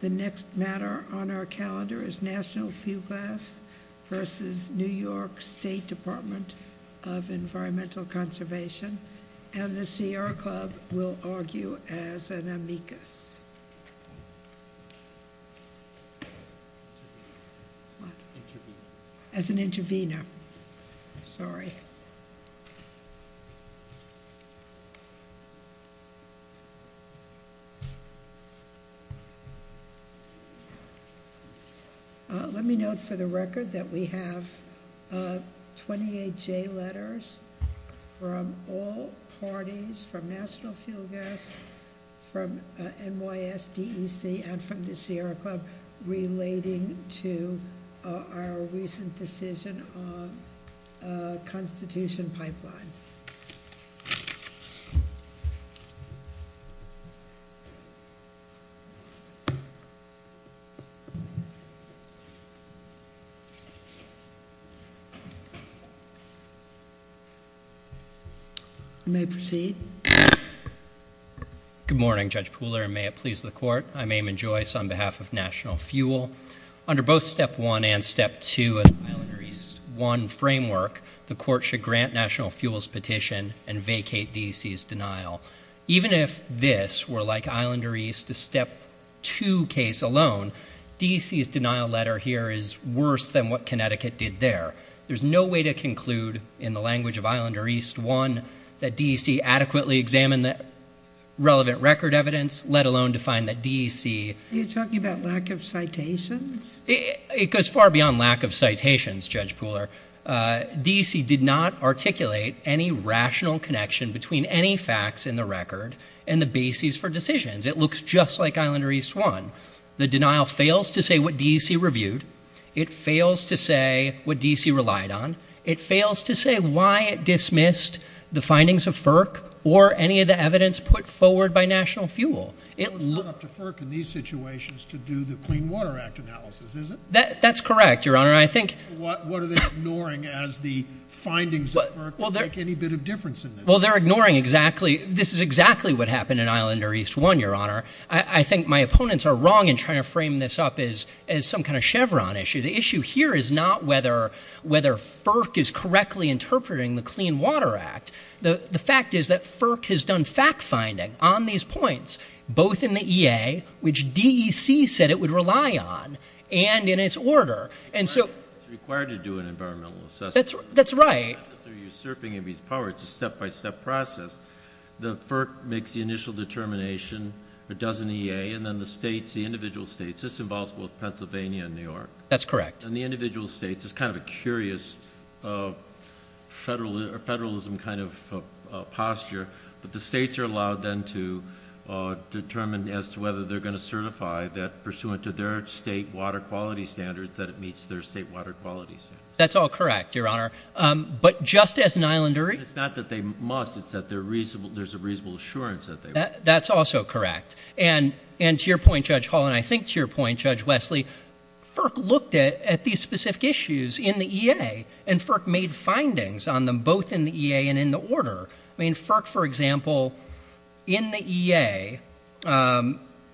The next matter on our calendar is National Fuel Gas versus New York State Department of Environmental Conservation. And the CR Club will argue as an amicus. As an intervener. Sorry. Let me note for the record that we have 28 J letters from all parties from National Fuel Gas, from NYSDEC, and from the CR Club relating to our recent decision on a constitution pipeline. May proceed. Good morning Judge Pooler and may it please the court. I'm Eamon Joyce on behalf of National Fuel. Under both Step 1 and Step 2 of the Islander East 1 framework, the court should grant National Fuel's petition and vacate DEC's denial. Even if this were like Islander East's Step 2 case alone, DEC's denial letter here is worse than what Connecticut did there. There's no way to conclude in the language of Islander East 1 that DEC adequately examined the relevant record evidence, let alone to find that DEC... Are you talking about lack of citations? It goes far beyond lack of citations. It goes far beyond the national connection between any facts in the record and the basis for decisions. It looks just like Islander East 1. The denial fails to say what DEC reviewed. It fails to say what DEC relied on. It fails to say why it dismissed the findings of FERC or any of the evidence put forward by National Fuel. It... It's not up to FERC in these situations to do the Clean Water Act analysis, is it? That's correct, Your Honor. I think... What are they ignoring as the findings of FERC make any bit of difference in this? Well, they're ignoring exactly... This is exactly what happened in Islander East 1, Your Honor. I think my opponents are wrong in trying to frame this up as some kind of Chevron issue. The issue here is not whether FERC is correctly interpreting the Clean Water Act. The fact is that FERC has done fact-finding on these points, both in the EA, which DEC said it would rely on, and in its order. And so... It's required to do an environmental assessment. That's right. It's a step-by-step process. The FERC makes the initial determination. It does an EA. And then the states, the individual states... This involves both Pennsylvania and New York. That's correct. And the individual states... It's kind of a curious federalism kind of posture. But the states are allowed then to determine as to whether they're going to certify that, pursuant to their state water quality standards, that it meets their state water quality standards. That's all correct, Your Honor. But just as an Islander... It's not that they must. It's that there's a reasonable assurance that they will. That's also correct. And to your point, Judge Hall, and I think to your point, Judge Wesley, FERC looked at these specific issues in the EA. And FERC made findings on them, both in the EA and in the order. I mean, FERC, for example, in the EA,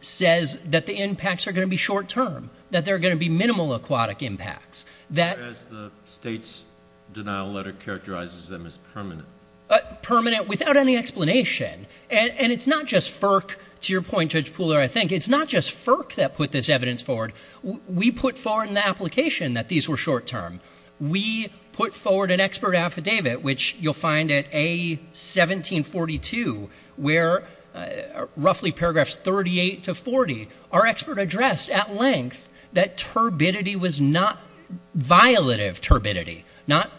says that the impacts are going to be short-term. That there are going to be minimal aquatic impacts. That... As the state's denial letter characterizes them as permanent. Permanent without any explanation. And it's not just FERC, to your point, Judge Pooler, I think. It's not just FERC that put this evidence forward. We put forward in the application that these were short-term. We put forward an expert affidavit, which you'll find at A1742, where, roughly paragraphs 38 to 40, our expert addressed at length that turbidity was not... violative turbidity. Not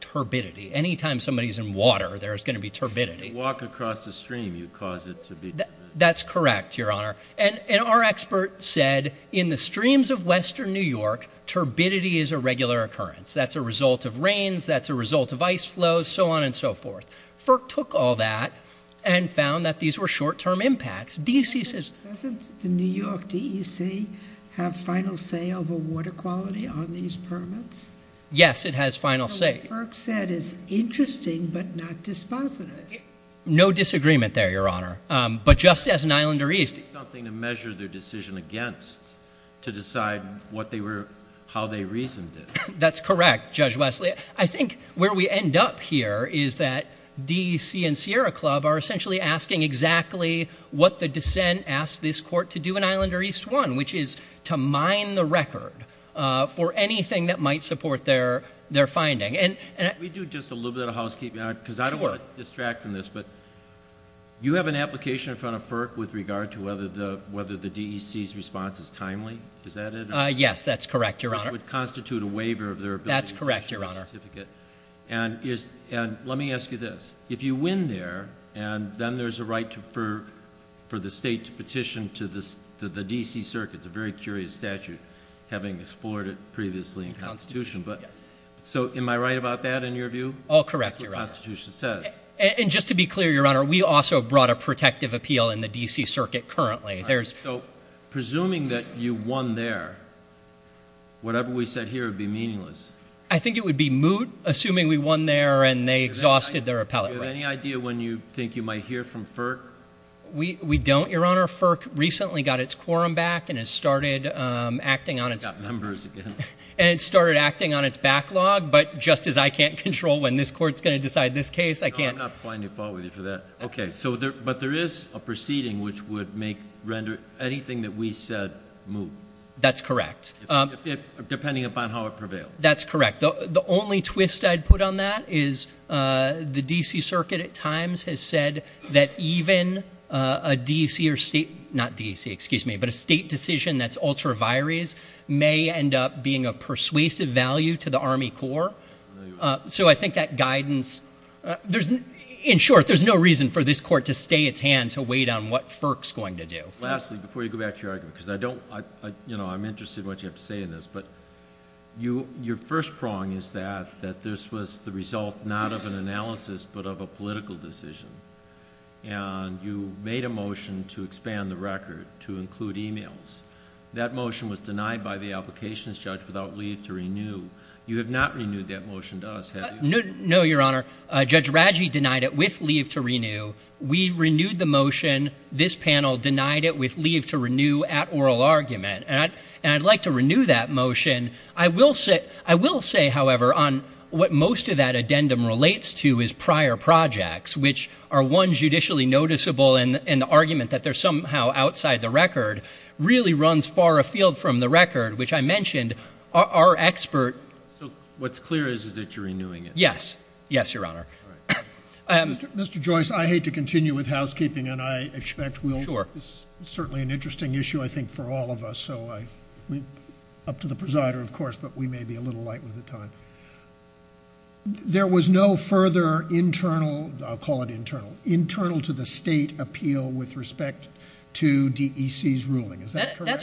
turbidity. Anytime somebody's in water, there's going to be turbidity. Walk across the stream, you cause it to be... That's correct, Your Honor. And our expert said, in the streams of western New York, turbidity is a regular occurrence. That's a result of rains. That's a result of ice flows. So on and so forth. FERC took all that and found that these were short-term impacts. DEC says... Doesn't the New York DEC have final say over water quality on these permits? Yes, it has final say. So what FERC said is interesting, but not dispositive. No disagreement there, Your Honor. But just as an Islander East... It would be something to measure their decision against to decide what they were... how they reasoned it. That's correct, Judge Wesley. I think where we end up here is that DEC and Sierra East won, which is to mine the record for anything that might support their finding. Can we do just a little bit of housekeeping? Sure. Because I don't want to distract from this, but you have an application in front of FERC with regard to whether the DEC's response is timely. Is that it? Yes, that's correct, Your Honor. It would constitute a waiver of their ability... That's correct, Your Honor. And let me ask you this. If you win there, and then there's a right for the state to petition to the D.C. Circuit. It's a very curious statute, having explored it previously in Constitution. So, am I right about that in your view? Oh, correct, Your Honor. That's what Constitution says. And just to be clear, Your Honor, we also brought a protective appeal in the D.C. Circuit currently. Presuming that you won there, whatever we said here would be meaningless. I think it would be moot, assuming we won there and they exhausted their appellate rights. Do you have any idea when you think you might hear from FERC? We don't, Your Honor. FERC recently got its quorum back and it started acting on its... It got members again. And it started acting on its backlog, but just as I can't control when this Court's going to decide this case, I can't... No, I'm not flying to fault with you for that. Okay. But there is a proceeding which would make, render anything that we said moot. That's correct. Depending upon how it prevailed. That's correct. The only twist I'd put on that is the D.C. Circuit at times has said that even a D.C. or state... not D.C., excuse me, but a state decision that's ultra vires may end up being of persuasive value to the Army Corps. So, I think that guidance... In short, there's no reason for this Court to stay its hand to wait on what FERC's going to do. Lastly, before you go back to your argument, because I don't... you know, I'm interested in what you have to say in this, but your first prong is that this was the result not of an analysis, but of a political decision. And you made a motion to expand the record to include e-mails. That motion was denied by the applications judge without leave to renew. You have not renewed that motion to us, have you? No, Your Honor. Judge Raggi denied it with leave to renew. We renewed the motion. This panel denied it with leave to renew at oral argument. And I'd like to renew that motion. I will say, however, on what most of that addendum relates to is prior projects, which are one, judicially noticeable, and the argument that they're somehow outside the record really runs far afield from the record, which I mentioned, our expert... So, what's clear is that you're renewing it? Yes. Yes, Your Honor. Mr. Joyce, I hate to continue with housekeeping, and I expect we'll... Sure. It's certainly an interesting issue, I think, for all of us, so up to the presider, of course, but we may be a little light with the time. There was no further internal... I'll call it internal... That's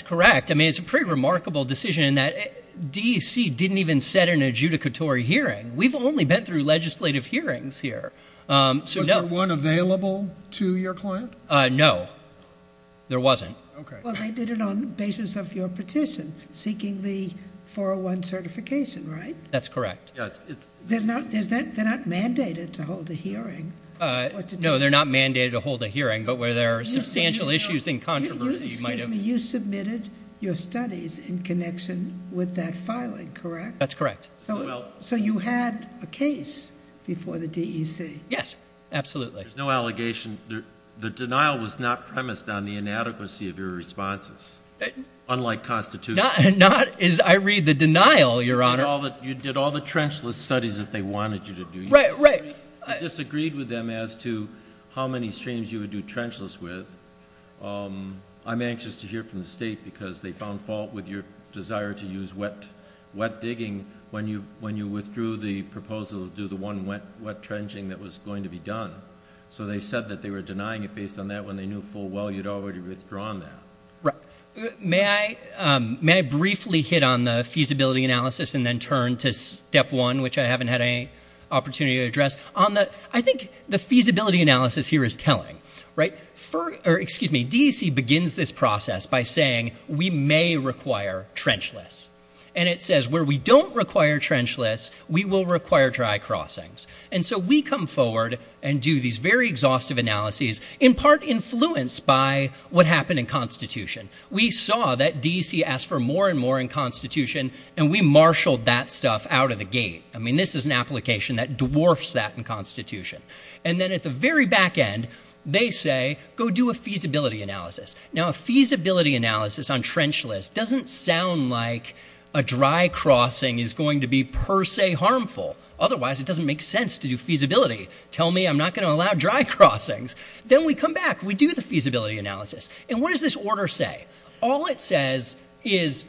correct. I mean, it's a pretty remarkable decision in that DEC didn't even set an adjudicatory hearing. We've only been through legislative hearings here. Was there one available to your client? No, there wasn't. Well, they did it on the basis of your petition, seeking the 401 certification, right? That's correct. They're not mandated to hold a hearing? No, they're not mandated to hold a hearing, but where there are substantial issues and controversy... Excuse me. You submitted your studies in connection with that filing, correct? That's correct. So, you had a case before the DEC? Yes, absolutely. There's no allegation. The denial was not premised on the inadequacy of your responses, unlike constitutional... Not... I read the denial, Your Honor. You did all the trenchless studies that they wanted you to do. Right, right. You disagreed with them as to how many streams you would do trenchless with. I'm anxious to hear from the State, because they found fault with your desire to use wet digging when you withdrew the proposal to do the one wet trenching that was going to be done. So, they said that they were denying it based on that. When they knew full well you'd already withdrawn that. May I briefly hit on the feasibility analysis and then turn to Step 1, which I haven't had any opportunity to address? I think the feasibility analysis here is telling. DEC begins this process by saying, we may require trenchless. And it says, where we don't require trenchless, we will require dry crossings. And so we come forward and do these very exhaustive analyses, in part influenced by what happened in Constitution. We saw that DEC asked for more and more in Constitution, and we marshaled that stuff out of the gate. I mean, this is an application that dwarfs that in Constitution. And then at the very back end, they say, go do a feasibility analysis. Now, a feasibility analysis on trenchless doesn't sound like a dry crossing is going to be per se harmful. Otherwise, it doesn't make sense to do feasibility. Tell me I'm not going to allow dry crossings. Then we come back, we do the feasibility analysis. And what does this order say? All it says is,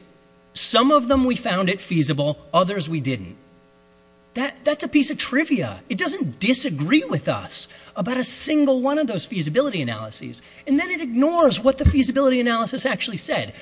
some of them we found it feasible, others we didn't. That's a piece of trivia. It doesn't disagree with us about a single one of those feasibility analyses. And then it ignores what the feasibility analysis actually said.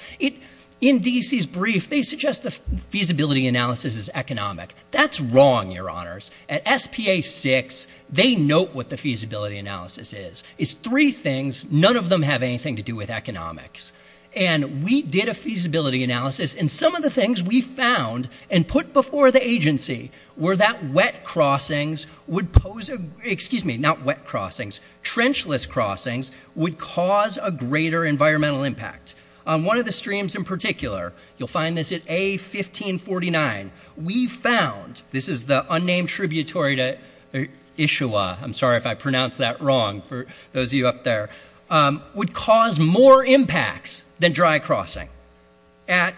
In DEC's brief, they suggest the feasibility analysis is economic. That's wrong, Your Honors. At SPA 6, they note what the feasibility analysis is. It's three things. None of them have anything to do with economics. And we did a feasibility analysis, and some of the things we found and put before the agency were that wet crossings would pose, excuse me, not wet crossings, trenchless crossings would cause a greater environmental impact. On one of the streams in particular, you'll find this at A1549, we found, this is the unnamed tributary to Issua, I'm sorry if I pronounced that wrong for those of you up there, would cause more impacts than dry crossing. At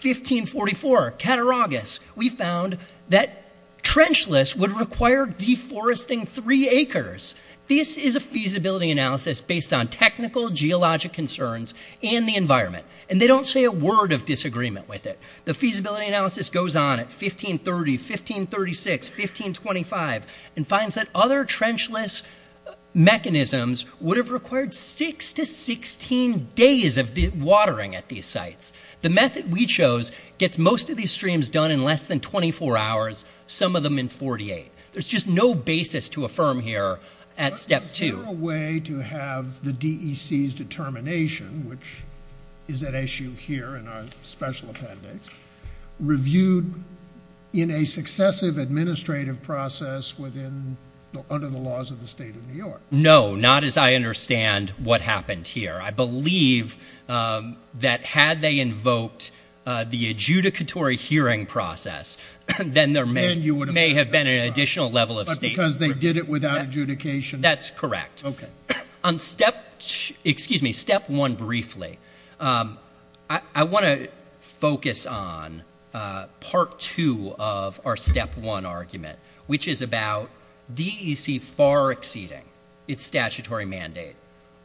A1544, Cataraugus, we found that trenchless would require deforesting three acres. This is a feasibility analysis based on technical geologic concerns and the environment. And they don't say a word of disagreement with it. The feasibility analysis goes on at A1530, A1536, A1525, and finds that other trenchless mechanisms would have required six to 16 days of watering at these sites. The method we chose gets most of these streams done in less than 24 hours, some of them in 48. There's just no basis to affirm here at step two. But is there a way to have the DEC's determination, which is at issue here in our special appendix, reviewed in a successive administrative process under the laws of the state of New York? No, not as I understand what happened here. I believe that had they invoked the adjudicatory hearing process, then there may have been an additional level of statement. But because they did it without adjudication? That's correct. On step, excuse me, step one briefly, I want to focus on part two of our step one argument, which is about DEC far exceeding its statutory mandate.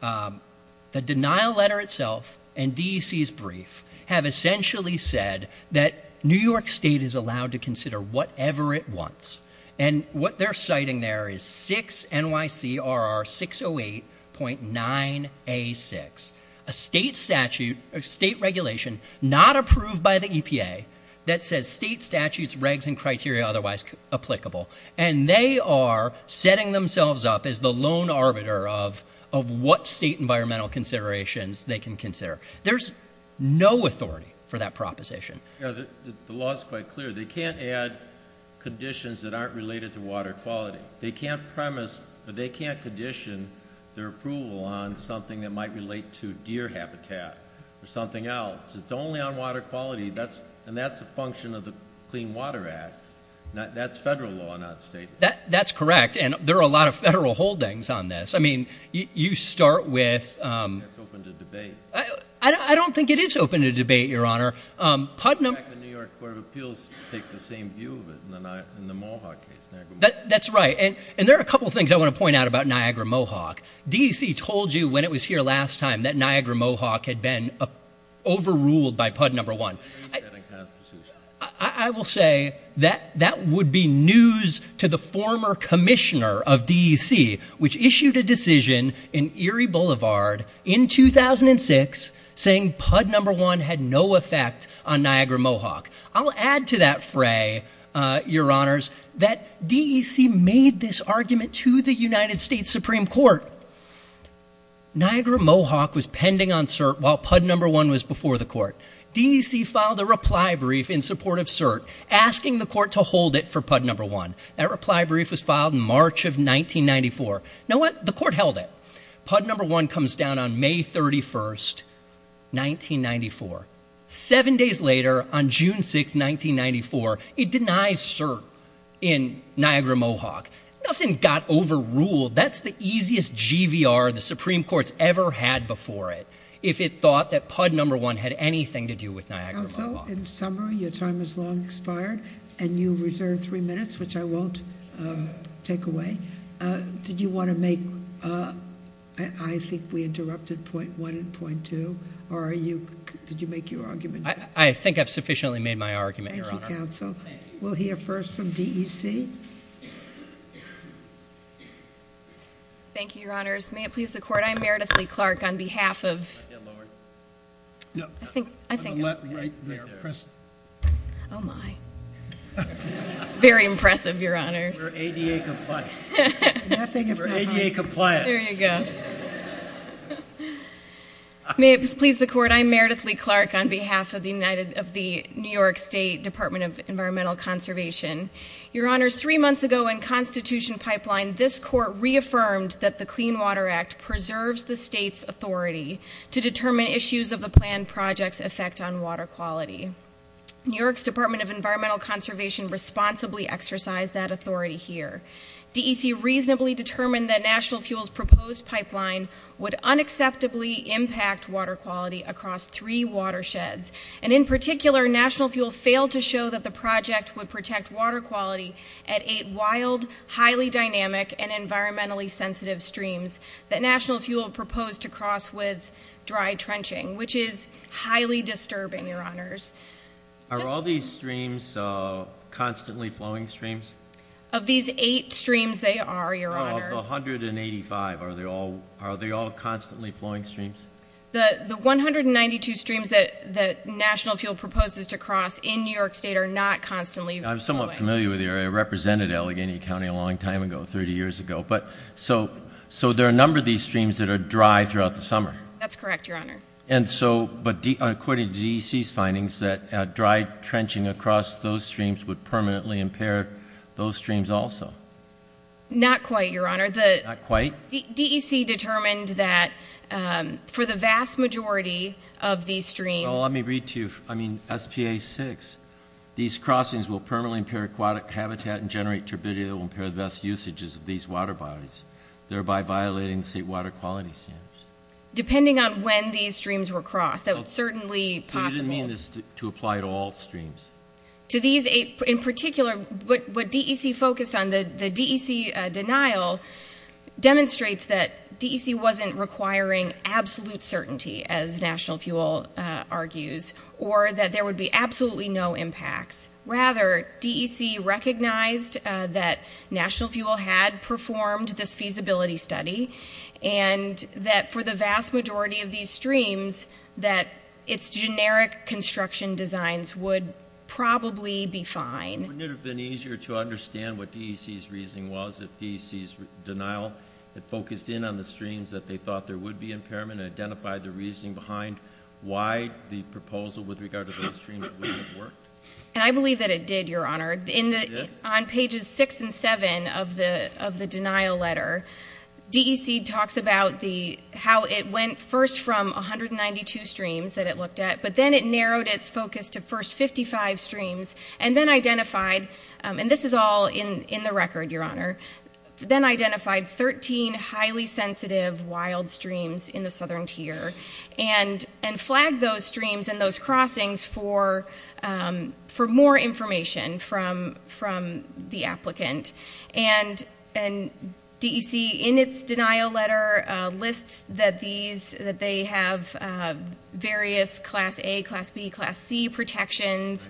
The denial letter itself and DEC's brief have essentially said that New York State is allowed to consider whatever it wants. And what they're citing there is 6 NYC RR 608.9 A6, a state statute, a state regulation not approved by the EPA that says state statutes, regs and criteria otherwise applicable. And they are setting themselves up as the lone arbiter of what state environmental considerations they can consider. There's no authority for that proposition. The law is quite clear. They can't add conditions that aren't related to water quality. They can't premise, but they can't condition their approval on something that might relate to deer habitat or something else. It's only on water quality. And that's a function of the Clean Water Act. That's federal law, not state. That's correct. And there are a lot of federal holdings on this. I don't think it is open to debate, Your Honor. The New York Court of Appeals takes the same view of it in the Mohawk case. That's right. And there are a couple of things I want to point out about Niagara Mohawk. DEC told you when it was here last time that Niagara Mohawk had been overruled by PUD No. 1. I will say that that would be news to the former commissioner of DEC, which issued a decision in Erie Boulevard in 2006 saying PUD No. 1 had no effect on Niagara Mohawk. I'll add to that fray, Your Honors, that DEC made this argument to the United States Supreme Court Niagara Mohawk was pending on CERT while PUD No. 1 was before the court. DEC filed a reply brief in support of CERT, asking the court to hold it for PUD No. 1. That reply brief was filed in March of 1994. Know what? The court held it. PUD No. 1 comes down on May 31, 1994. Seven days later, on June 6, 1994, it denies CERT in Niagara Mohawk. Nothing got overruled. That's the easiest GVR the Supreme Court's ever had before it, if it thought that PUD No. 1 had anything to do with Niagara Mohawk. Counsel, in summary, your time has long expired, and you've reserved three minutes, which I won't take away. Did you want to make, I think we interrupted point one and point two, or did you make your argument? Thank you, Counsel. We'll hear first from DEC. Thank you, Your Honors. May it please the court, I'm Meredith Lee Clark, on behalf of It's very impressive, Your Honors. Nothing for ADA compliance. May it please the court, I'm Meredith Lee Clark, on behalf of the New York State Department of Environmental Conservation. Your Honors, three months ago in Constitution Pipeline, this court reaffirmed that the Clean Water Act preserves the state's authority to determine issues of the planned project's effect on water quality. New York's Department of Environmental Conservation responsibly exercised that authority here. DEC reasonably determined that National Fuel's proposed pipeline would unacceptably impact water quality across three watersheds. And in particular, National Fuel failed to show that the project would protect water quality at eight wild, highly dynamic, and environmentally sensitive streams that National Fuel proposed to cross with dry trenching, which is highly disturbing, Your Honors. Are all these streams constantly flowing streams? Of these eight streams, they are, Your Honor. Of the 185, are they all constantly flowing streams? The 192 streams that National Fuel proposes to cross in New York State are not constantly flowing. I'm somewhat familiar with the area. It represented Allegheny County a long time ago, 30 years ago. So there are a number of these streams that are dry throughout the summer. That's correct, Your Honor. And so, according to DEC's findings, that dry trenching across those streams would permanently impair those streams also. Not quite, Your Honor. Not quite? DEC determined that for the vast majority of these streams- Well, let me read to you. I mean, SPA 6. These crossings will permanently impair aquatic habitat and generate turbidity that will impair the best usages of these water bodies, thereby violating the state water quality standards. Depending on when these streams were crossed. That would certainly be possible. You didn't mean this to apply to all streams. To these, in particular, what DEC focused on, the DEC denial, demonstrates that DEC wasn't requiring absolute certainty, as National Fuel argues, or that there would be absolutely no impacts. Rather, DEC recognized that National Fuel had performed this feasibility study, and that for the vast majority of these streams, that its generic construction designs would probably be fine. Wouldn't it have been easier to understand what DEC's reasoning was if DEC's denial had focused in on the streams that they thought there would be impairment and identified the reasoning behind why the proposal with regard to those streams wouldn't have worked? And I believe that it did, Your Honor. It did? On pages 6 and 7 of the denial letter, DEC talks about how it went first from 192 streams that it looked at, but then it narrowed its focus to first 55 streams and then identified, and this is all in the record, Your Honor, then identified 13 highly sensitive wild streams in the southern tier and flagged those streams and those crossings for more information from the applicant. And DEC, in its denial letter, lists that they have various Class A, Class B, Class C protections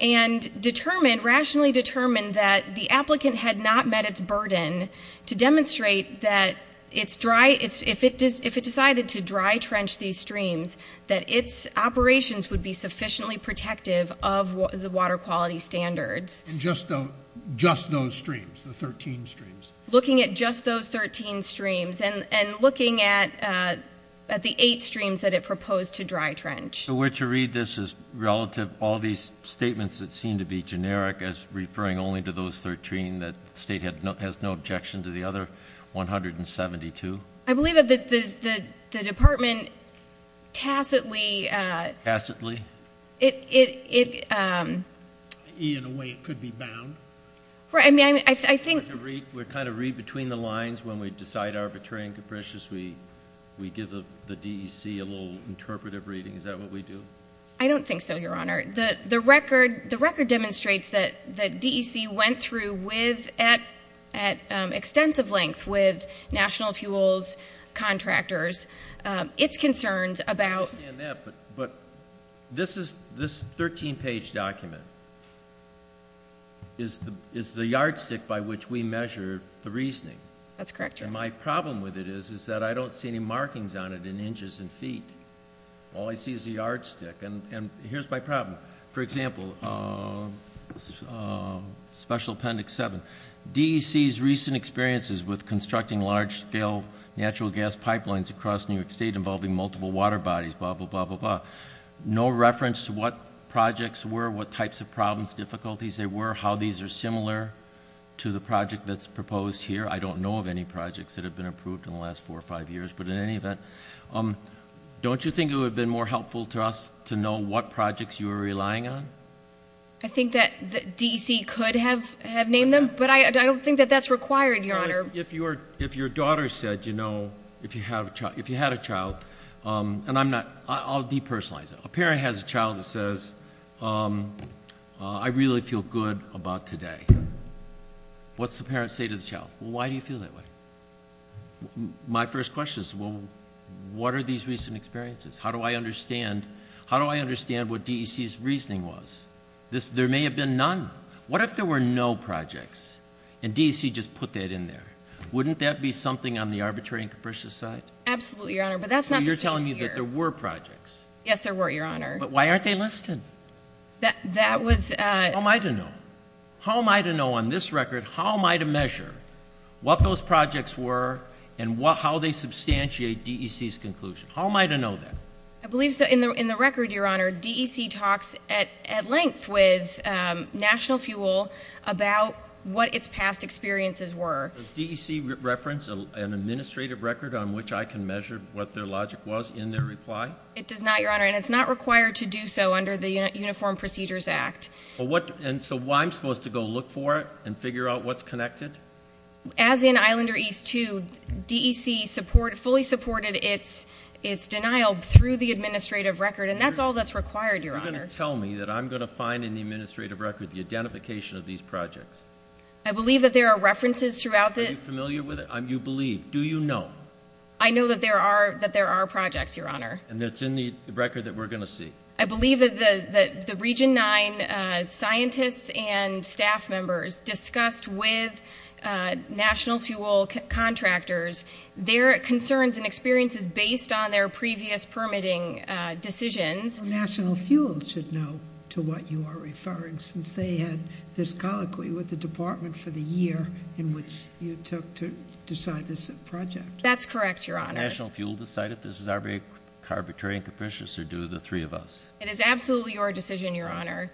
and determined, rationally determined, that the applicant had not met its burden to demonstrate that if it decided to dry trench these streams, that its operations would be sufficiently protective of the water quality standards. And just those streams, the 13 streams? Looking at just those 13 streams and looking at the 8 streams that it proposed to dry trench. So were to read this as relative, all these statements that seem to be generic as referring only to those 13 that the State has no objection to the other 172? I believe that the Department tacitly. Tacitly? It. In a way it could be bound. I mean, I think. We kind of read between the lines when we decide arbitrary and capricious. We give the DEC a little interpretive reading. Is that what we do? I don't think so, Your Honor. Your Honor, the record demonstrates that DEC went through at extensive length with national fuels contractors its concerns about. I understand that, but this 13-page document is the yardstick by which we measure the reasoning. That's correct, Your Honor. And my problem with it is that I don't see any markings on it in inches and feet. All I see is the yardstick. And here's my problem. For example, Special Appendix 7. DEC's recent experiences with constructing large-scale natural gas pipelines across New York State involving multiple water bodies, blah, blah, blah, blah, blah. No reference to what projects were, what types of problems, difficulties there were, how these are similar to the project that's proposed here. I don't know of any projects that have been approved in the last four or five years. But in any event, don't you think it would have been more helpful to us to know what projects you were relying on? I think that DEC could have named them, but I don't think that that's required, Your Honor. If your daughter said, you know, if you had a child, and I'm not, I'll depersonalize it. A parent has a child that says, I really feel good about today. What's the parent say to the child? Well, why do you feel that way? My first question is, well, what are these recent experiences? How do I understand, how do I understand what DEC's reasoning was? There may have been none. What if there were no projects, and DEC just put that in there? Wouldn't that be something on the arbitrary and capricious side? Absolutely, Your Honor, but that's not the case here. So you're telling me that there were projects? Yes, there were, Your Honor. But why aren't they listed? That was... How am I to know? How am I to know on this record, how am I to measure what those projects were and how they substantiate DEC's conclusion? How am I to know that? I believe so. In the record, Your Honor, DEC talks at length with National Fuel about what its past experiences were. Does DEC reference an administrative record on which I can measure what their logic was in their reply? It does not, Your Honor, and it's not required to do so under the Uniform Procedures Act. And so I'm supposed to go look for it and figure out what's connected? As in Islander East 2, DEC fully supported its denial through the administrative record, and that's all that's required, Your Honor. Are you going to tell me that I'm going to find in the administrative record the identification of these projects? I believe that there are references throughout the... Are you familiar with it? You believe. Do you know? I know that there are projects, Your Honor. And it's in the record that we're going to see? I believe that the Region 9 scientists and staff members discussed with National Fuel contractors their concerns and experiences based on their previous permitting decisions. National Fuel should know to what you are referring, since they had this colloquy with the department for the year in which you took to decide this project. That's correct, Your Honor. Does National Fuel decide if this is arbitrary and capricious, or do the three of us? It is absolutely your decision, Your Honor.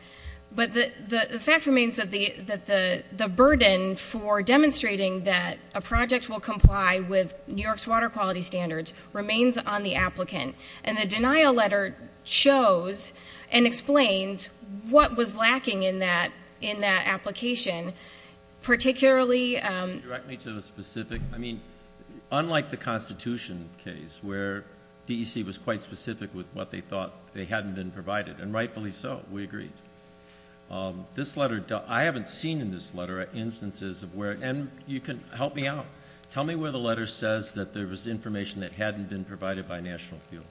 But the fact remains that the burden for demonstrating that a project will comply with New York's water quality standards remains on the applicant. And the denial letter shows and explains what was lacking in that application, particularly... where DEC was quite specific with what they thought they hadn't been provided. And rightfully so. We agree. This letter... I haven't seen in this letter instances of where... and you can help me out. Tell me where the letter says that there was information that hadn't been provided by National Fuel.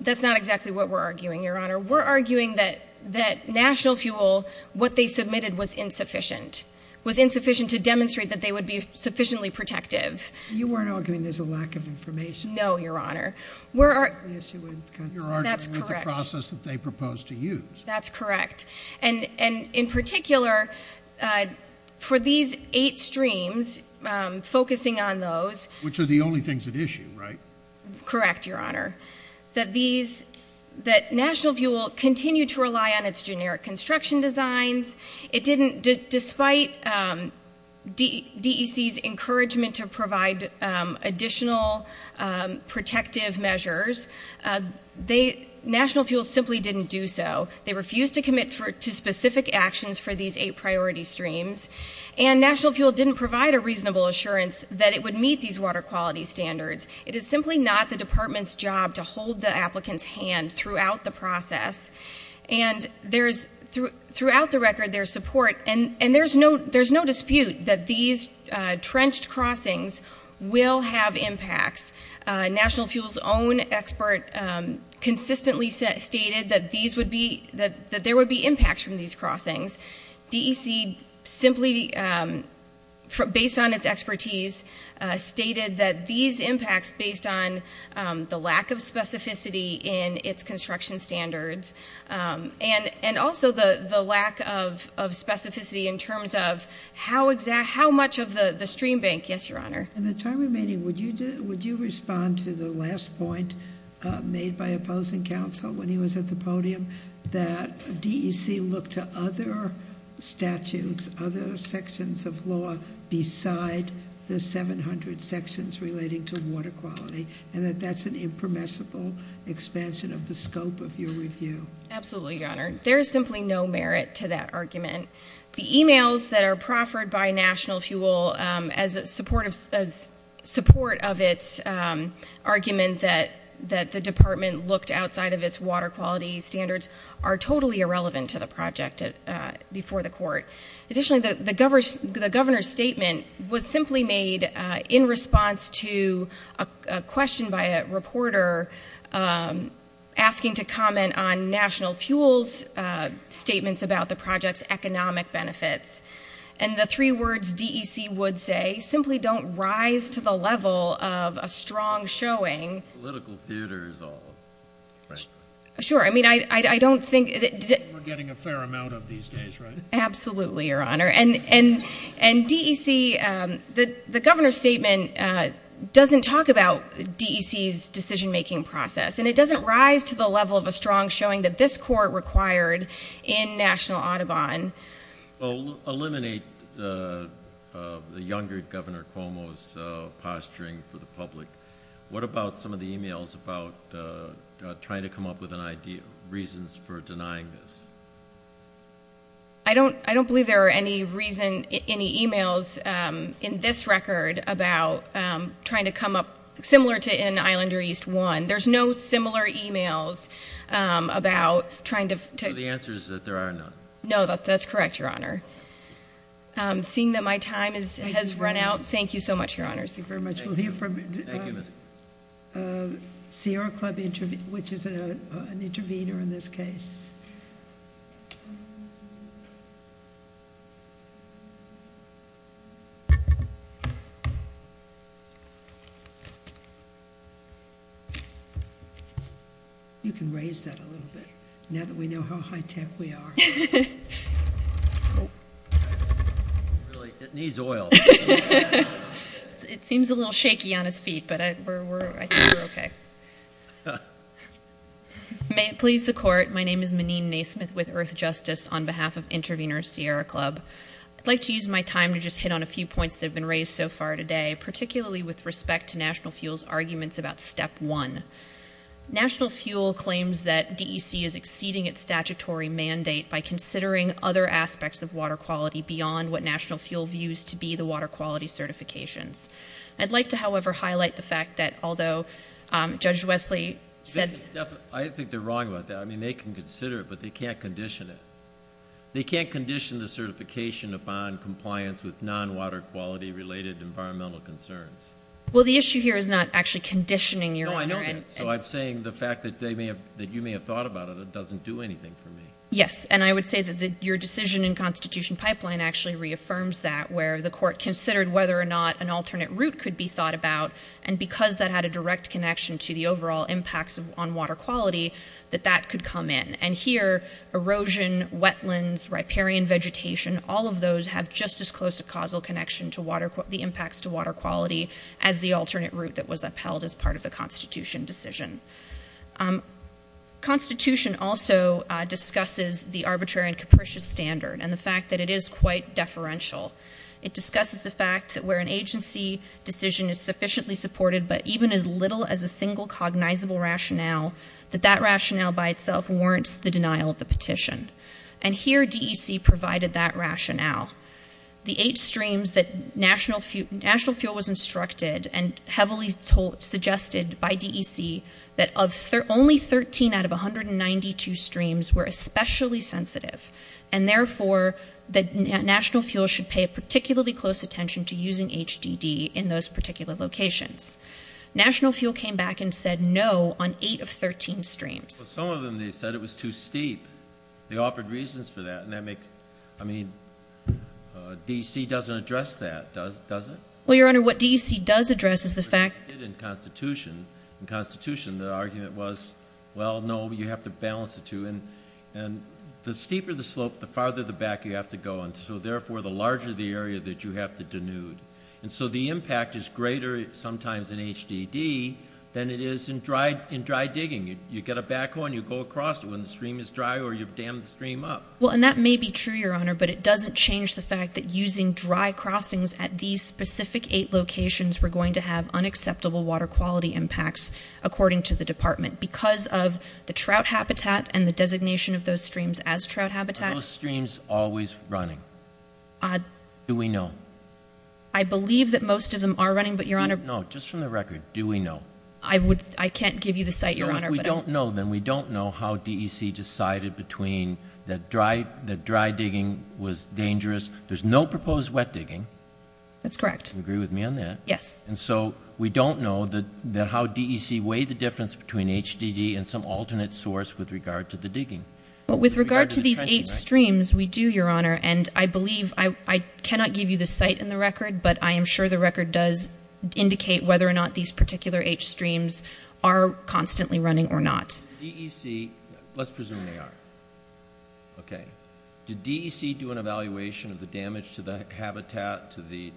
That's not exactly what we're arguing, Your Honor. We're arguing that National Fuel, what they submitted was insufficient. It was insufficient to demonstrate that they would be sufficiently protective. You weren't arguing there's a lack of information? No, Your Honor. You're arguing with the process that they proposed to use. That's correct. And in particular, for these eight streams, focusing on those... Which are the only things at issue, right? Correct, Your Honor. That National Fuel continued to rely on its generic construction designs. Despite DEC's encouragement to provide additional protective measures, National Fuel simply didn't do so. They refused to commit to specific actions for these eight priority streams. And National Fuel didn't provide a reasonable assurance that it would meet these water quality standards. It is simply not the department's job to hold the applicant's hand throughout the process. And throughout the record, there's support. And there's no dispute that these trenched crossings will have impacts. National Fuel's own expert consistently stated that there would be impacts from these crossings. DEC simply, based on its expertise, stated that these impacts based on the lack of specificity in its construction standards and also the lack of specificity in terms of how much of the stream bank... Yes, Your Honor. In the time remaining, would you respond to the last point made by opposing counsel when he was at the podium that DEC looked to other statutes, other sections of law beside the 700 sections relating to water quality and that that's an impermissible expansion of the scope of your review? Absolutely, Your Honor. There is simply no merit to that argument. The emails that are proffered by National Fuel as support of its argument that the department looked outside of its water quality standards are totally irrelevant to the project before the court. Additionally, the governor's statement was simply made in response to a question by a reporter asking to comment on National Fuel's statements about the project's economic benefits. And the three words DEC would say simply don't rise to the level of a strong showing... Political theater is all. Sure. I mean, I don't think... We're getting a fair amount of these days, right? Absolutely, Your Honor. And DEC, the governor's statement doesn't talk about DEC's decision-making process, and it doesn't rise to the level of a strong showing that this court required in National Audubon... Well, eliminate the younger Governor Cuomo's posturing for the public. What about some of the emails about trying to come up with reasons for denying this? I don't believe there are any emails in this record about trying to come up, similar to in Islander East 1, there's no similar emails about trying to... So the answer is that there are none? No, that's correct, Your Honor. Seeing that my time has run out, thank you so much, Your Honor. Thank you very much. We'll hear from CR Club, which is an intervener in this case. You can raise that a little bit, now that we know how high-tech we are. It needs oil. It seems a little shaky on his feet, but I think we're okay. May it please the Court, my name is Meneen Naismith with Earth Justice on behalf of Intervener Sierra Club. I'd like to use my time to just hit on a few points that have been raised so far today, particularly with respect to National Fuel's arguments about Step 1. National Fuel claims that DEC is exceeding its statutory mandate by considering other aspects of water quality beyond what National Fuel views to be the water quality certifications. I'd like to, however, highlight the fact that although Judge Wesley said... I think they're wrong about that. I mean, they can consider it, but they can't condition it. They can't condition the certification upon compliance with non-water quality-related environmental concerns. Well, the issue here is not actually conditioning, Your Honor. No, I know that. So I'm saying the fact that you may have thought about it doesn't do anything for me. Yes, and I would say that your decision in Constitution Pipeline actually reaffirms that, where the Court considered whether or not an alternate route could be thought about, and because that had a direct connection to the overall impacts on water quality, that that could come in. And here, erosion, wetlands, riparian vegetation, all of those have just as close a causal connection to the impacts to water quality as the alternate route that was upheld as part of the Constitution decision. Constitution also discusses the arbitrary and capricious standard and the fact that it is quite deferential. It discusses the fact that where an agency decision is sufficiently supported, but even as little as a single cognizable rationale, that that rationale by itself warrants the denial of the petition. And here, DEC provided that rationale. The eight streams that National Fuel was instructed and heavily suggested by DEC that only 13 out of 192 streams were especially sensitive, and therefore that National Fuel should pay particularly close attention to using HDD in those particular locations. National Fuel came back and said no on eight of 13 streams. Well, some of them, they said it was too steep. They offered reasons for that, and that makes, I mean, DEC doesn't address that, does it? Well, Your Honor, what DEC does address is the fact that In Constitution, the argument was, well, no, you have to balance the two. And the steeper the slope, the farther back you have to go, and so therefore the larger the area that you have to denude. And so the impact is greater sometimes in HDD than it is in dry digging. You get a backhorn, you go across it when the stream is dry or you've dammed the stream up. Well, and that may be true, Your Honor, but it doesn't change the fact that using dry crossings at these specific eight locations were going to have unacceptable water quality impacts, according to the department, because of the trout habitat and the designation of those streams as trout habitat. Are those streams always running? Do we know? I believe that most of them are running, but, Your Honor. No, just from the record, do we know? I can't give you the site, Your Honor. If we don't know, then we don't know how DEC decided between that dry digging was dangerous. There's no proposed wet digging. That's correct. Agree with me on that? Yes. And so we don't know how DEC weighed the difference between HDD and some alternate source with regard to the digging. But with regard to these eight streams, we do, Your Honor, and I believe I cannot give you the site and the record, but I am sure the record does indicate whether or not these particular eight streams are constantly running or not. DEC, let's presume they are. Okay. Did DEC do an evaluation of the damage to the habitat, to the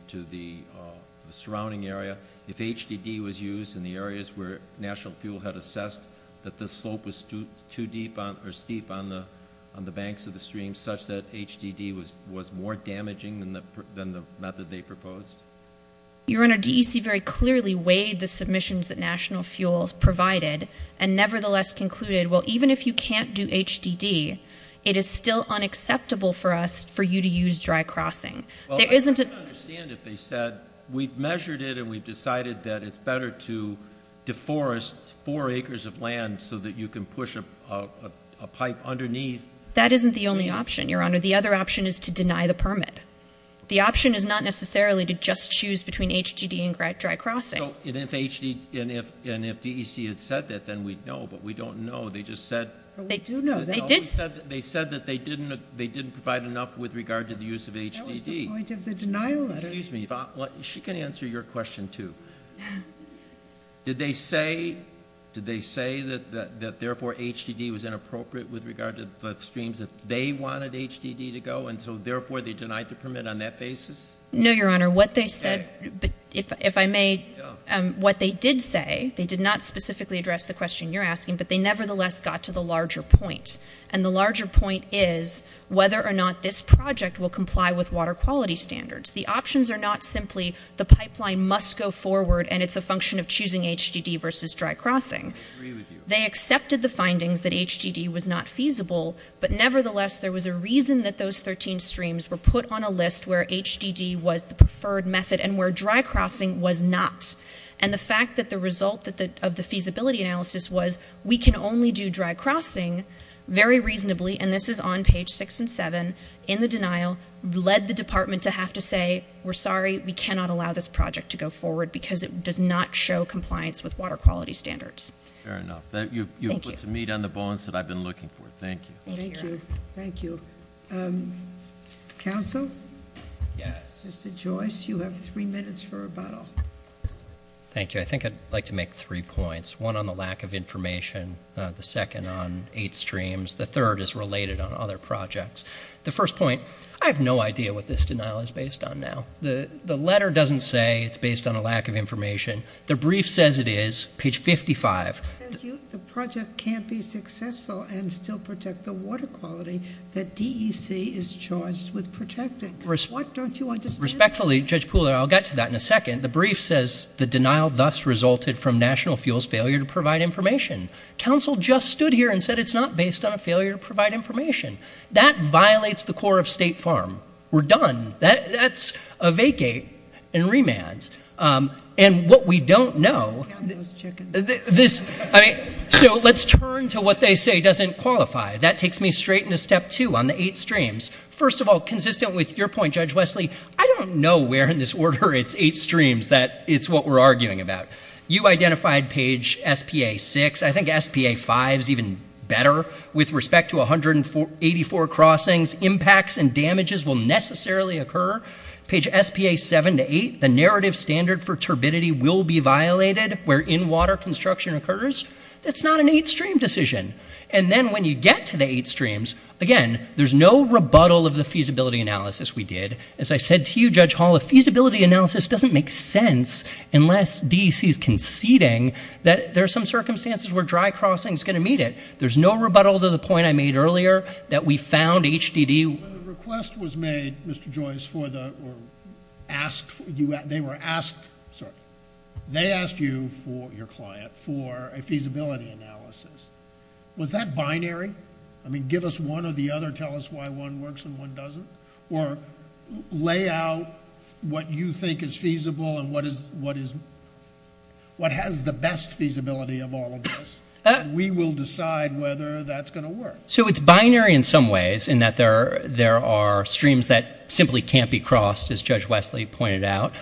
surrounding area, if HDD was used in the areas where National Fuel had assessed that the slope was too deep or steep on the banks of the stream such that HDD was more damaging than the method they proposed? Your Honor, DEC very clearly weighed the submissions that National Fuel provided and nevertheless concluded, well, even if you can't do HDD, it is still unacceptable for us for you to use dry crossing. Well, I don't understand if they said, we've measured it and we've decided that it's better to deforest four acres of land so that you can push a pipe underneath. That isn't the only option, Your Honor. The other option is to deny the permit. The option is not necessarily to just choose between HDD and dry crossing. And if DEC had said that, then we'd know, but we don't know. They just said they didn't provide enough with regard to the use of HDD. That was the point of the denial letter. Excuse me. She can answer your question, too. Did they say that, therefore, HDD was inappropriate with regard to the streams that they wanted HDD to go and so, therefore, they denied the permit on that basis? No, Your Honor. What they said, if I may, what they did say, they did not specifically address the question you're asking, but they nevertheless got to the larger point. And the larger point is whether or not this project will comply with water quality standards. The options are not simply the pipeline must go forward and it's a function of choosing HDD versus dry crossing. I agree with you. They accepted the findings that HDD was not feasible, but nevertheless there was a reason that those 13 streams were put on a list where HDD was the preferred method and where dry crossing was not. And the fact that the result of the feasibility analysis was we can only do dry crossing very reasonably, and this is on page six and seven, in the denial, led the department to have to say, we're sorry, we cannot allow this project to go forward because it does not show compliance with water quality standards. Fair enough. Thank you. You've put some meat on the bones that I've been looking for. Thank you. Thank you. Thank you. Counsel? Yes. Mr. Joyce, you have three minutes for rebuttal. Thank you. I think I'd like to make three points. One on the lack of information. The second on eight streams. The third is related on other projects. The first point, I have no idea what this denial is based on now. The letter doesn't say it's based on a lack of information. The brief says it is, page 55. The project can't be successful and still protect the water quality that DEC is charged with protecting. What don't you understand? Respectfully, Judge Pooler, I'll get to that in a second. The brief says the denial thus resulted from National Fuel's failure to provide information. Counsel just stood here and said it's not based on a failure to provide information. That violates the core of State Farm. We're done. That's a vacate and remand. And what we don't know. Count those chickens. So let's turn to what they say doesn't qualify. That takes me straight into step two on the eight streams. First of all, consistent with your point, Judge Wesley, I don't know where in this order it's eight streams that it's what we're arguing about. You identified page S.P.A. 6. I think S.P.A. 5 is even better. With respect to 184 crossings, impacts and damages will necessarily occur. Page S.P.A. 7 to 8, the narrative standard for turbidity will be violated where in-water construction occurs. That's not an eight stream decision. And then when you get to the eight streams, again, there's no rebuttal of the feasibility analysis we did. As I said to you, Judge Hall, a feasibility analysis doesn't make sense unless DEC is conceding that there are some circumstances where dry crossing is going to meet it. There's no rebuttal to the point I made earlier that we found HDD. When the request was made, Mr. Joyce, for the asked, they were asked, sorry, they asked you, your client, for a feasibility analysis. Was that binary? I mean, give us one or the other, tell us why one works and one doesn't? Or lay out what you think is feasible and what has the best feasibility of all of this, and we will decide whether that's going to work. So it's binary in some ways in that there are streams that simply can't be crossed, as Judge Wesley pointed out.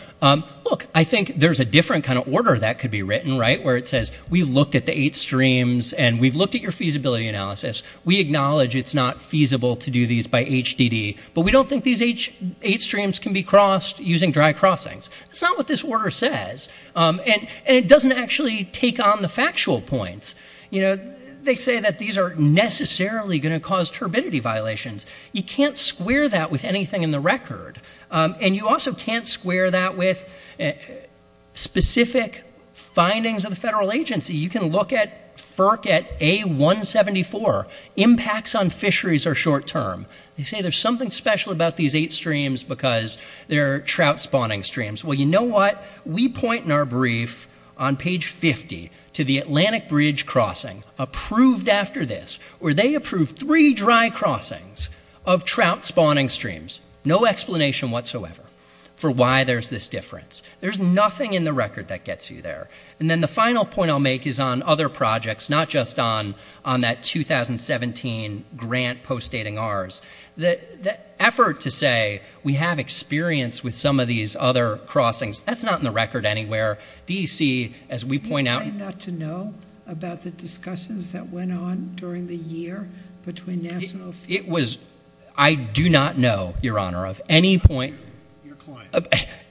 Look, I think there's a different kind of order that could be written, right, where it says we've looked at the eight streams and we've looked at your feasibility analysis. We acknowledge it's not feasible to do these by HDD, but we don't think these eight streams can be crossed using dry crossings. That's not what this order says, and it doesn't actually take on the factual points. You know, they say that these are necessarily going to cause turbidity violations. You can't square that with anything in the record, and you also can't square that with specific findings of the federal agency. You can look at FERC at A174. Impacts on fisheries are short term. They say there's something special about these eight streams because they're trout spawning streams. Well, you know what? We point in our brief on page 50 to the Atlantic Bridge Crossing, approved after this, where they approved three dry crossings of trout spawning streams. No explanation whatsoever for why there's this difference. There's nothing in the record that gets you there. And then the final point I'll make is on other projects, not just on that 2017 grant post-dating ours. The effort to say we have experience with some of these other crossings, that's not in the record anywhere. DEC, as we point out ñ You claim not to know about the discussions that went on during the year between national – It was ñ I do not know, Your Honor, of any point – Your client.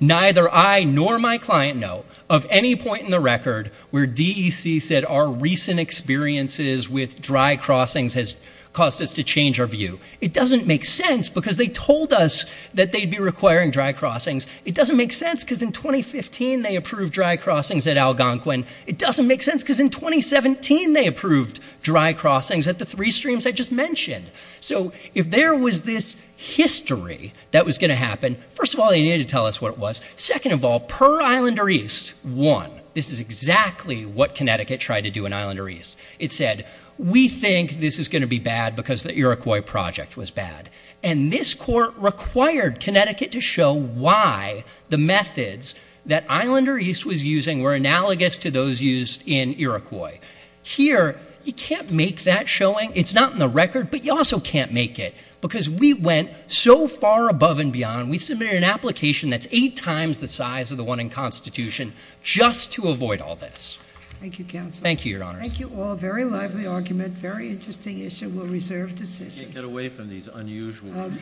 Neither I nor my client know. Of any point in the record where DEC said our recent experiences with dry crossings has caused us to change our view. It doesn't make sense because they told us that they'd be requiring dry crossings. It doesn't make sense because in 2015 they approved dry crossings at Algonquin. It doesn't make sense because in 2017 they approved dry crossings at the three streams I just mentioned. So if there was this history that was going to happen, first of all, they needed to tell us what it was. Second of all, per Islander East, one, this is exactly what Connecticut tried to do in Islander East. It said, we think this is going to be bad because the Iroquois project was bad. And this court required Connecticut to show why the methods that Islander East was using were analogous to those used in Iroquois. Here, you can't make that showing. It's not in the record, but you also can't make it because we went so far above and beyond. We submitted an application that's eight times the size of the one in Constitution just to avoid all this. Thank you, counsel. Thank you, your honors. Thank you all. Very lively argument. Very interesting issue. We'll reserve decision. Can't get away from these unusual.